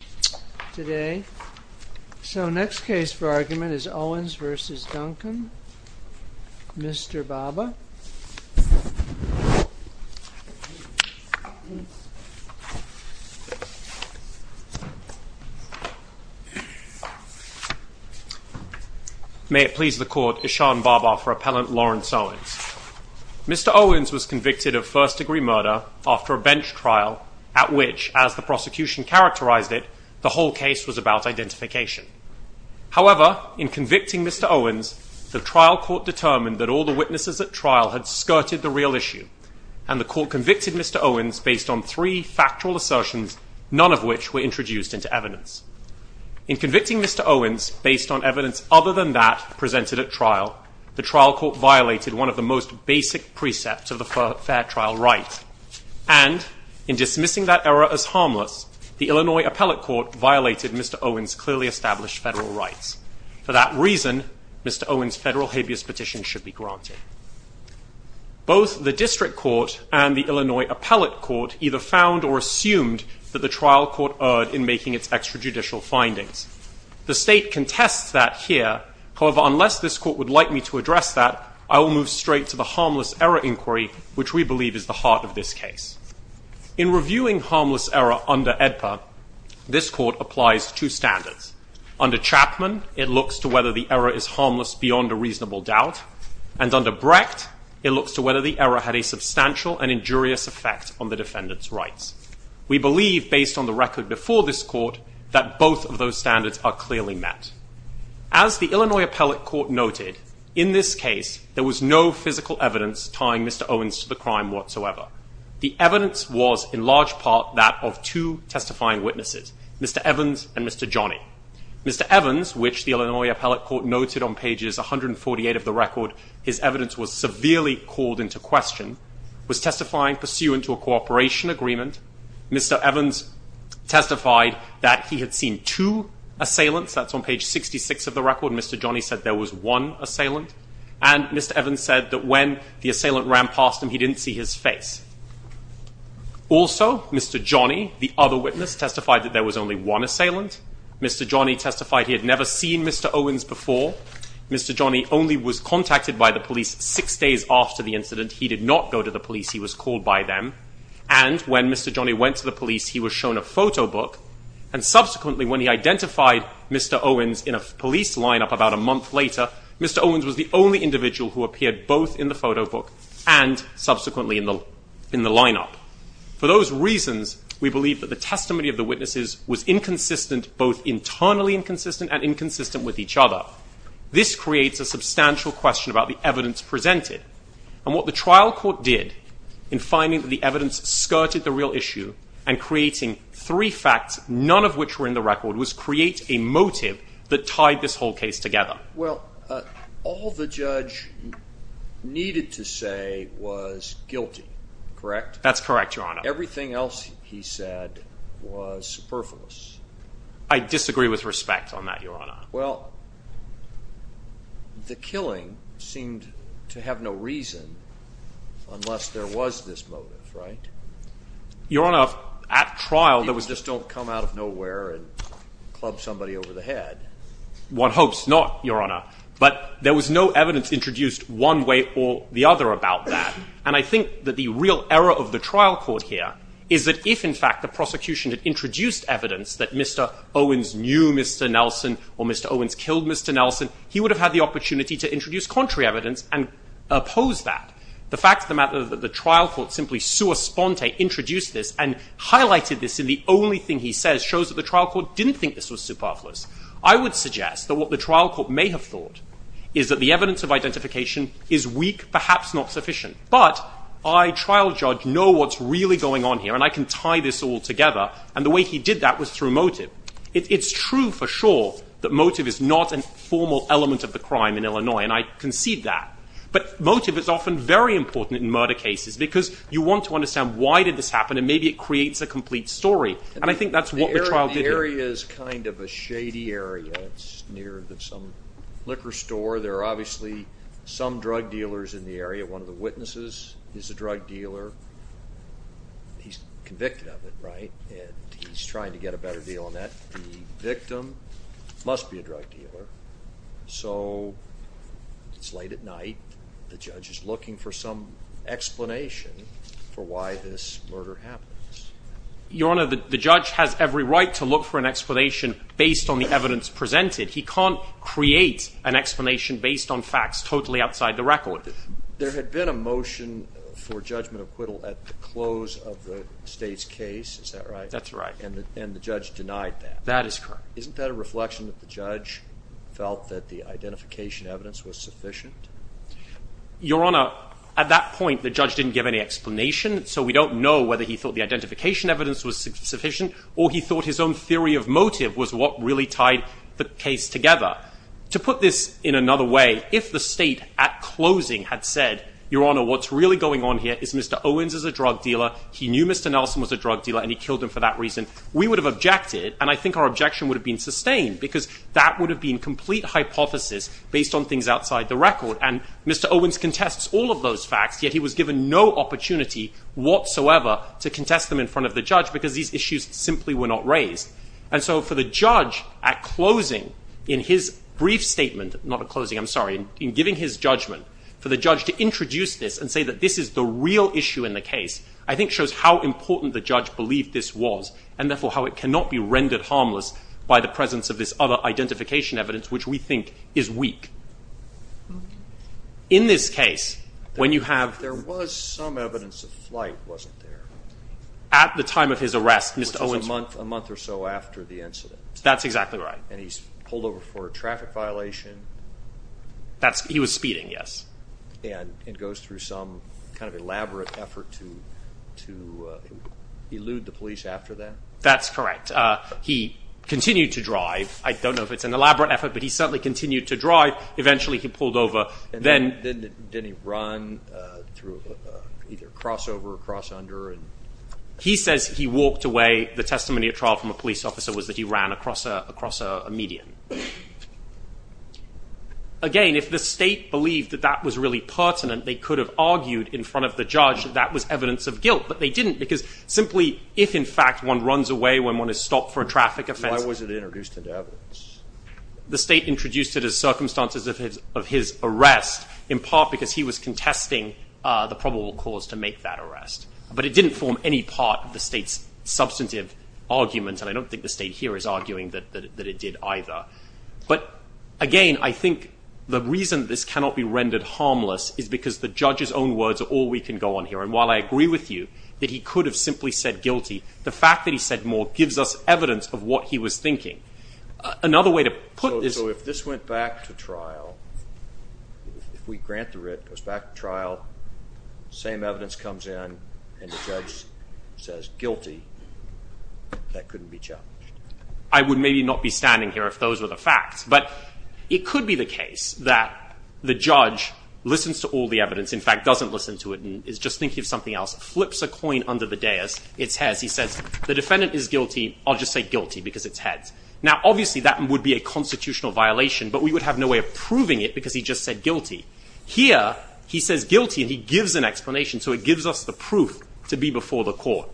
Mr. Owens was convicted of first-degree murder after a bench trial at which, as the prosecution characterized it, the whole case was about identification. However, in convicting Mr. Owens, the trial court determined that all the witnesses at trial had skirted the real issue, and the court convicted Mr. Owens based on three factual assertions, none of which were introduced into evidence. In convicting Mr. Owens based on evidence other than that presented at trial, the trial court violated one of the most basic precepts of the fair trial right. And in dismissing that error as harmless, the Illinois Appellate Court violated Mr. Owens' clearly established federal rights. For that reason, Mr. Owens' federal habeas petition should be granted. Both the district court and the Illinois Appellate Court either found or assumed that the trial court erred in making its extrajudicial findings. The state contests that here. However, unless this court would like me to address that, I will move straight to the harmless error inquiry, which we believe is the heart of this case. In reviewing harmless error under AEDPA, this court applies two standards. Under Chapman, it looks to whether the error is harmless beyond a reasonable doubt. And under Brecht, it looks to whether the error had a substantial and injurious effect on the defendant's rights. We believe, based on the record before this court, that both of those there was no physical evidence tying Mr. Owens to the crime whatsoever. The evidence was in large part that of two testifying witnesses, Mr. Evans and Mr. Johnny. Mr. Evans, which the Illinois Appellate Court noted on pages 148 of the record, his evidence was severely called into question, was testifying pursuant to a cooperation agreement. Mr. Evans testified that he had seen two assailants. That's on page 66 of the record. Mr. Johnny said there was one assailant. And Mr. Evans said that when the assailant ran past him, he didn't see his face. Also, Mr. Johnny, the other witness, testified that there was only one assailant. Mr. Johnny testified he had never seen Mr. Owens before. Mr. Johnny only was contacted by the police six days after the incident. He did not go to the police. He was called by them. And when Mr. Johnny went to the police, he was shown a photo book. And subsequently, when he identified Mr. Owens in a police lineup about a month later, Mr. Owens was the only individual who appeared both in the photo book and subsequently in the lineup. For those reasons, we believe that the testimony of the witnesses was inconsistent, both internally inconsistent and inconsistent with each other. This creates a substantial question about the evidence presented. And what the trial court did in finding that the none of which were in the record was create a motive that tied this whole case together. Well, all the judge needed to say was guilty, correct? That's correct, Your Honor. Everything else he said was superfluous. I disagree with respect on that, Your Honor. Well, the killing seemed to have no reason unless there was this motive, right? Your Honor, at trial, there was just don't come out of nowhere and club somebody over the head. One hopes not, Your Honor. But there was no evidence introduced one way or the other about that. And I think that the real error of the trial court here is that if, in fact, the prosecution had introduced evidence that Mr. Owens knew Mr. Nelson or Mr. Owens killed Mr. Nelson, he would have had the opportunity to introduce contrary evidence and oppose that. The fact introduced this and highlighted this in the only thing he says shows that the trial court didn't think this was superfluous. I would suggest that what the trial court may have thought is that the evidence of identification is weak, perhaps not sufficient. But I, trial judge, know what's really going on here. And I can tie this all together. And the way he did that was through motive. It's true for sure that motive is not a formal element of the crime in Illinois. And I concede that. But motive is often very important in murder cases because you want to understand why did this happen? And maybe it creates a complete story. And I think that's what the trial did here. The area is kind of a shady area. It's near some liquor store. There are obviously some drug dealers in the area. One of the witnesses is a drug dealer. He's convicted of it, right? And he's trying to get a better deal on that. The victim must be a drug dealer. So it's late at night. The judge is looking for some explanation for why this murder happens. Your Honor, the judge has every right to look for an explanation based on the evidence presented. He can't create an explanation based on facts totally outside the record. There had been a motion for judgment acquittal at the close of the state's case. Is that right? That's right. And the judge denied that. That is correct. Isn't that a reflection that the judge felt that the identification evidence was sufficient? Your Honor, at that point, the judge didn't give any explanation. So we don't know whether he thought the identification evidence was sufficient or he thought his own theory of motive was what really tied the case together. To put this in another way, if the state at closing had said, Your Honor, what's really going on here is Mr. Owens is a drug dealer. He knew Mr. Nelson was a drug dealer and he killed him for that reason. We would have objected. And I think our objection would have been sustained because that would have been complete hypothesis based on things outside the record. And Mr. Owens contests all of those facts, yet he was given no opportunity whatsoever to contest them in front of the judge because these issues simply were not raised. And so for the judge at closing in his brief statement, not a closing, I'm sorry, in giving his judgment for the judge to introduce this and say that this is the real issue in the case, I think shows how important the judge believed this was and therefore how it cannot be rendered harmless by the presence of this other identification evidence which we think is weak. In this case, when you have... There was some evidence of flight, wasn't there? At the time of his arrest, Mr. Owens... Which was a month or so after the incident. That's exactly right. And he's pulled over for a traffic violation. That's... He was speeding, yes. And goes through some kind of elaborate effort to elude the police after that? That's correct. He continued to drive. I don't know if it's an elaborate effort, but he certainly continued to drive. Eventually he pulled over. And then didn't he run through either cross over or cross under? He says he walked away. The testimony at trial from a police officer was that he ran across a median. Again, if the state believed that that was really pertinent, they could have argued in front of the simply, if in fact one runs away when one is stopped for a traffic offense... Why was it introduced into evidence? The state introduced it as circumstances of his arrest, in part because he was contesting the probable cause to make that arrest. But it didn't form any part of the state's substantive argument. And I don't think the state here is arguing that it did either. But again, I think the reason this cannot be rendered harmless is because the judge's simply said guilty. The fact that he said more gives us evidence of what he was thinking. So if this went back to trial, if we grant the writ, it goes back to trial, same evidence comes in, and the judge says guilty, that couldn't be challenged? I would maybe not be standing here if those were the facts. But it could be the case that the judge listens to all the evidence, in fact doesn't listen to it and is just thinking of something else, flips a coin under the dais, it's heads, he says the defendant is guilty, I'll just say guilty because it's heads. Now obviously that would be a constitutional violation, but we would have no way of proving it because he just said guilty. Here, he says guilty and he gives an explanation, so it gives us the proof to be before the court.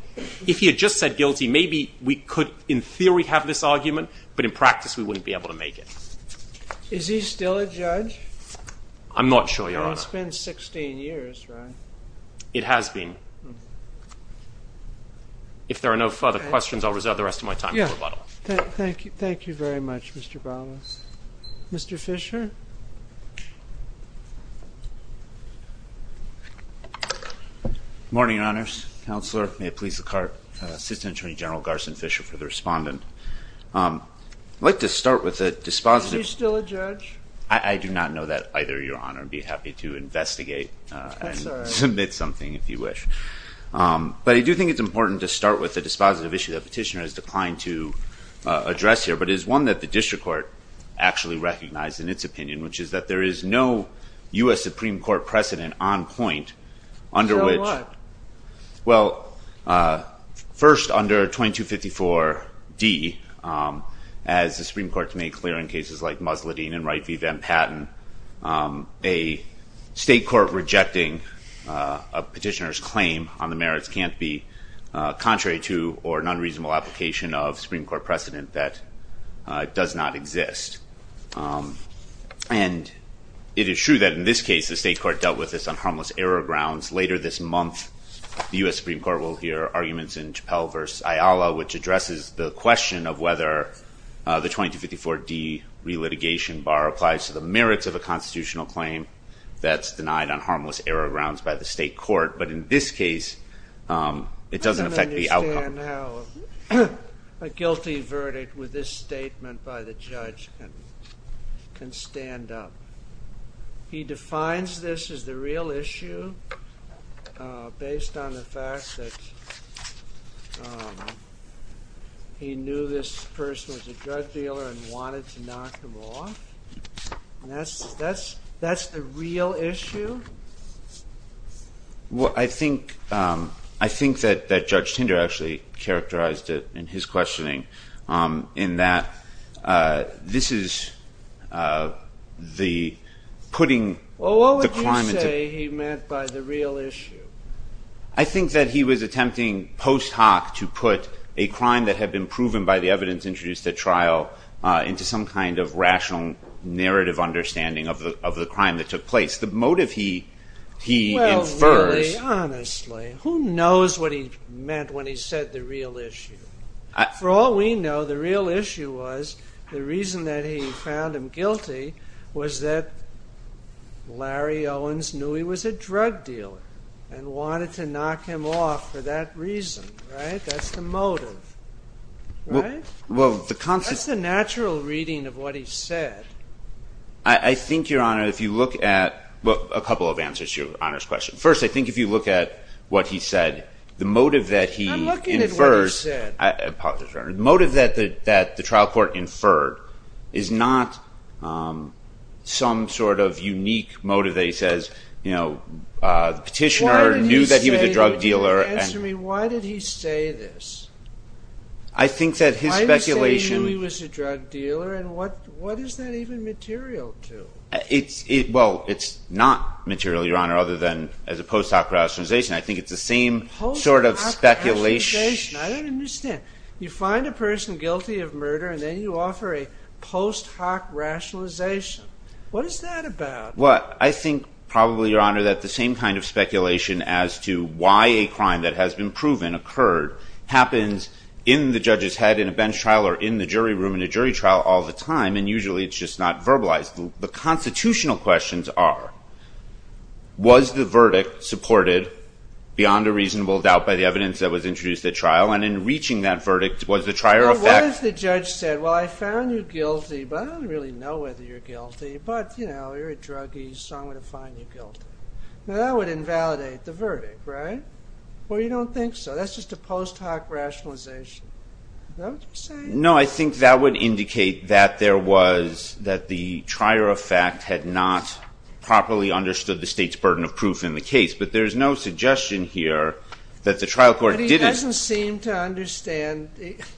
If he had just said guilty, maybe we could in theory have this argument, but in practice we wouldn't be able to make it. It's been 16 years, right? It has been. If there are no further questions, I'll reserve the rest of my time for rebuttal. Thank you. Thank you very much, Mr. Ballas. Mr. Fisher? Good morning, Your Honors. Counselor, may it please the Court, Assistant Attorney General Garson Fisher for the respondent. I'd like to start with a dispositive... Is he still a judge? I do not know that either, Your Honor. I'd be happy to investigate and submit something if you wish. But I do think it's important to start with the dispositive issue that Petitioner has declined to address here, but it's one that the District Court actually recognized in its opinion, which is that there is no U.S. Supreme Court precedent on point under which... Under what? Well, first, under 2254 D, as the Supreme Court's made clear in cases like Musladeen and Wright v. State Court, rejecting a petitioner's claim on the merits can't be contrary to or an unreasonable application of Supreme Court precedent that does not exist. And it is true that in this case, the State Court dealt with this on harmless error grounds. Later this month, the U.S. Supreme Court will hear arguments in Chappell v. Ayala, which addresses the question of whether the 2254 D relitigation bar applies to the merits of a constitutional claim that's denied on harmless error grounds by the State Court. But in this case, it doesn't affect the outcome. I don't understand how a guilty verdict with this statement by the judge can stand up. He defines this as the real issue based on the fact that he knew this person was a drug dealer and wanted to knock him off. That's the real issue? Well, I think that Judge Tinder actually characterized it in his questioning in that this is the putting the crime into... Well, what would you say he meant by the real issue? I think that he was attempting post hoc to put a crime that had been proven by the evidence introduced at trial into some kind of rational narrative understanding of the crime that took place. The motive he infers... Well, really, honestly, who knows what he meant when he said the real issue? For all we know, the real issue was the reason that he found him guilty was that Larry Owens knew he was a drug dealer and wanted to knock him off for that reason. That's the motive. That's the natural reading of what he said. I think, Your Honor, if you look at... Well, a couple of answers to Your Honor's question. First, I think if you look at what he said, the motive that he infers... I'm looking at what he said. Apologies, Your Honor. The motive that the trial court inferred is not some sort of unique motive that he says the petitioner knew that he was a drug dealer and... Answer me. Why did he say this? I think that his speculation... Why did he say he knew he was a drug dealer and what is that even material to? Well, it's not material, Your Honor, other than as a post hoc rationalization. I think it's the same sort of speculation. I don't understand. You find a person guilty of murder and then you offer a post hoc rationalization. What is that about? I think, probably, Your Honor, that the same kind of speculation as to why a crime that has been proven occurred happens in the judge's head in a bench trial or in the jury room in a jury trial all the time and usually it's just not verbalized. The constitutional questions are, was the verdict supported beyond a reasonable doubt by the evidence that was introduced at trial? And in reaching that verdict, was the trier effect... Well, what if the judge said, well, I found you guilty, but I don't really know whether you're guilty, but, you know, you're a druggie, so I'm going to find you guilty. Now that would invalidate the verdict, right? Well, you don't think so. That's just a post hoc rationalization. Is that what you're saying? No, I think that would indicate that there was, that the trier effect had not properly understood the state's burden of proof in the case, but there's no suggestion here that the trial court didn't... I don't think that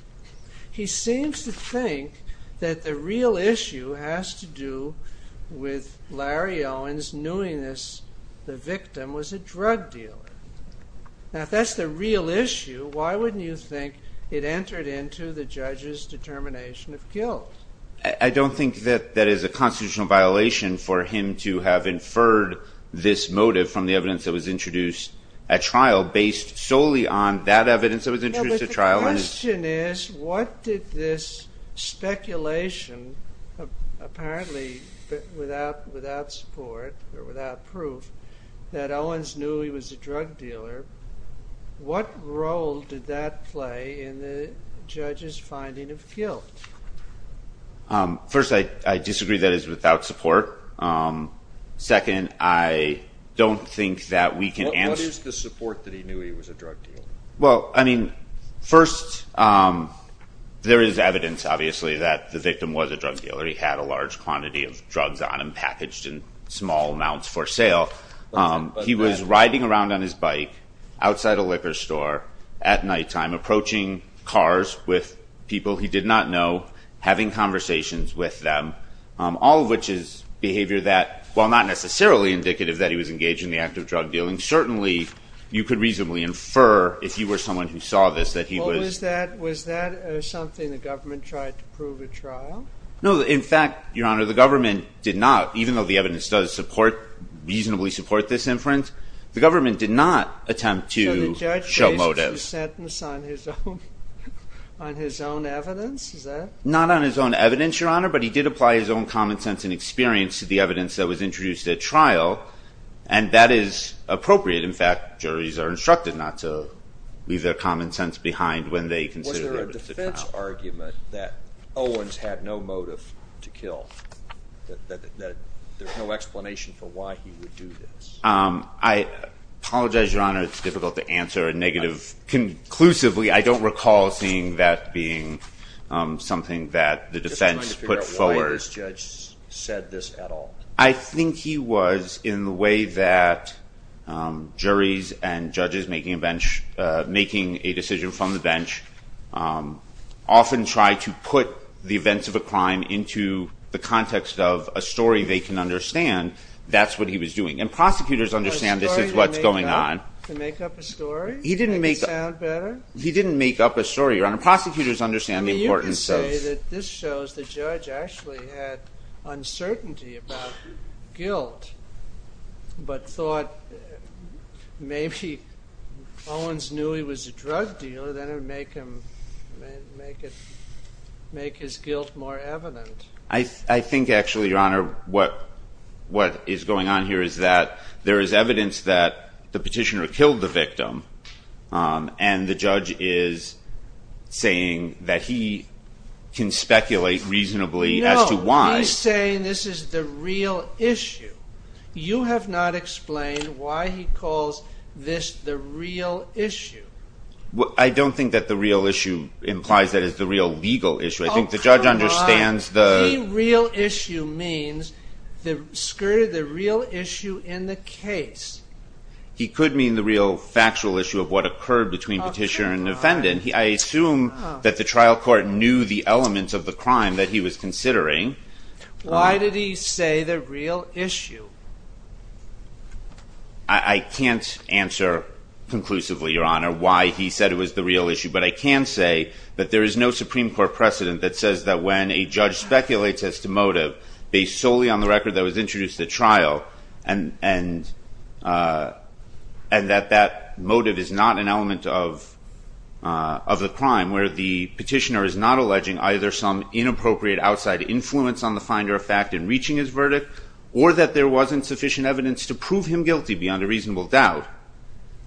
that is a constitutional violation for him to have inferred this motive from the evidence that was introduced at trial based solely on that evidence that was introduced at trial. But the question is, what did this speculation, apparently without support or without proof, that Owens knew he was a drug dealer, what role did that play in the judge's finding of guilt? First, I disagree that it's without support. Second, I don't think that we can answer... What is the support that he knew he was a drug dealer? Well, first, there is evidence, obviously, that the victim was a drug dealer. He had a large quantity of drugs on him, packaged in small amounts for sale. He was riding around on his bike outside a liquor store at nighttime, approaching cars with people he did not know, having conversations with them, all of which is behavior that, while not necessarily indicative that he was engaged in the act of drug dealing, certainly you could reasonably infer, if you were someone who saw this, that he was... Was that something the government tried to prove at trial? No. In fact, Your Honor, the government did not, even though the evidence does reasonably support this inference, the government did not attempt to show motive. So the judge raised the sentence on his own evidence? Is that... Not on his own evidence, Your Honor, but he did apply his own common sense and experience to the evidence that was introduced at trial, and that is appropriate. In fact, juries are instructed not to leave their common sense behind when they consider... Was there a defense argument that Owens had no motive to kill, that there's no explanation for why he would do this? I apologize, Your Honor, it's difficult to answer a negative... Conclusively, I don't recall seeing that being something that the defense put forward. Judge said this at all? I think he was, in the way that juries and judges making a bench, making a decision from the bench, often try to put the events of a crime into the context of a story they can understand, that's what he was doing. And prosecutors understand this is what's going on. A story to make up a story? He didn't make... Make it sound better? He didn't make up a story, Your Honor. Prosecutors understand the importance of... This shows the judge actually had uncertainty about guilt, but thought maybe Owens knew he was a drug dealer, that would make his guilt more evident. I think actually, Your Honor, what is going on here is that there is evidence that the judge can speculate reasonably as to why... No, he's saying this is the real issue. You have not explained why he calls this the real issue. I don't think that the real issue implies that it's the real legal issue. I think the judge understands the... Oh, come on. The real issue means the real issue in the case. He could mean the real factual issue of what occurred between petitioner and defendant. I assume that the trial court knew the elements of the crime that he was considering. Why did he say the real issue? I can't answer conclusively, Your Honor, why he said it was the real issue. But I can say that there is no Supreme Court precedent that says that when a judge speculates as to motive based solely on the record that was introduced at trial, and that that motive is not an element of the crime where the petitioner is not alleging either some inappropriate outside influence on the finder of fact in reaching his verdict, or that there wasn't sufficient evidence to prove him guilty beyond a reasonable doubt,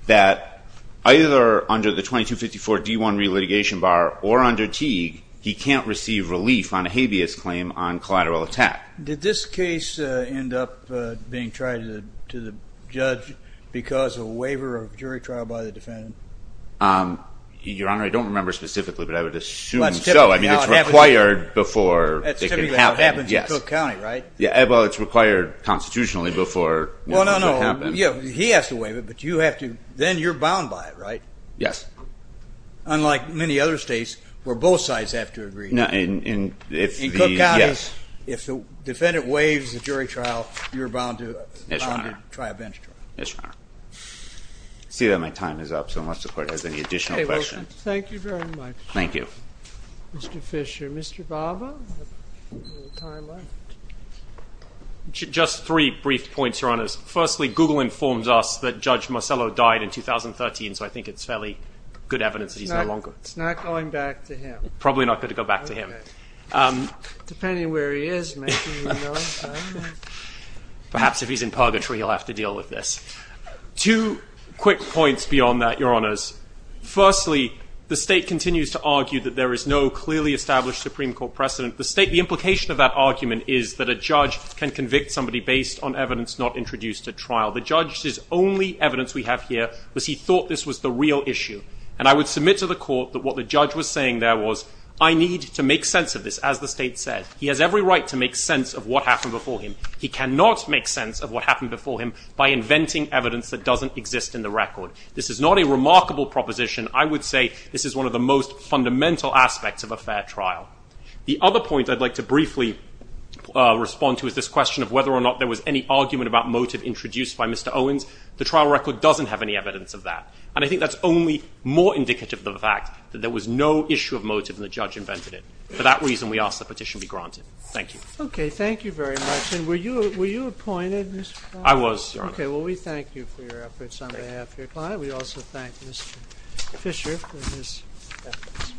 that either under the 2254 D1 re-litigation bar or under Teague, he can't receive relief on a habeas claim on collateral attack. Did this case end up being tried to the judge because of a waiver of jury trial by the defendant? Um, Your Honor, I don't remember specifically, but I would assume so. I mean, it's required before it can happen. That's typically what happens in Cook County, right? Yeah, well, it's required constitutionally before it can happen. Well, no, no, he has to waive it, but then you're bound by it, right? Yes. Unlike many other states where both sides have to agree. No, in Cook County, if the defendant waives the jury trial, you're bound to try a bench trial. Yes, Your Honor. I see that my time is up, so unless the court has any additional questions. Thank you very much. Thank you. Mr. Fisher. Mr. Barber? Just three brief points, Your Honors. Firstly, Google informs us that Judge Marcello died in 2013, so I think it's fairly good evidence that he's no longer. It's not going back to him? Probably not going to go back to him. Depending where he is, maybe, you know. Perhaps if he's in purgatory, he'll have to deal with this. Two quick points beyond that, Your Honors. Firstly, the state continues to argue that there is no clearly established Supreme Court precedent. The state, the implication of that argument is that a judge can convict somebody based on evidence not introduced at trial. The judge's only evidence we have here was he thought this was the real issue, and I would submit to the court that what the judge was saying there was, I need to make sense of this, as the state said. He has every right to make sense of what happened before him. He cannot make sense of what happened before him by inventing evidence that doesn't exist in the record. This is not a remarkable proposition. I would say this is one of the most fundamental aspects of a fair trial. The other point I'd like to briefly respond to is this question of whether or not there was any argument about motive introduced by Mr. Owens. The trial record doesn't have any evidence of that, and I think that's only more indicative of the fact that there was no issue of motive and the judge invented it. For that reason, we ask the petition be granted. Thank you. Okay. Thank you very much. And were you appointed, Mr. Klein? I was, Your Honor. Okay. Well, we thank you for your efforts on behalf of your client. We also thank Mr. Fisher for his efforts.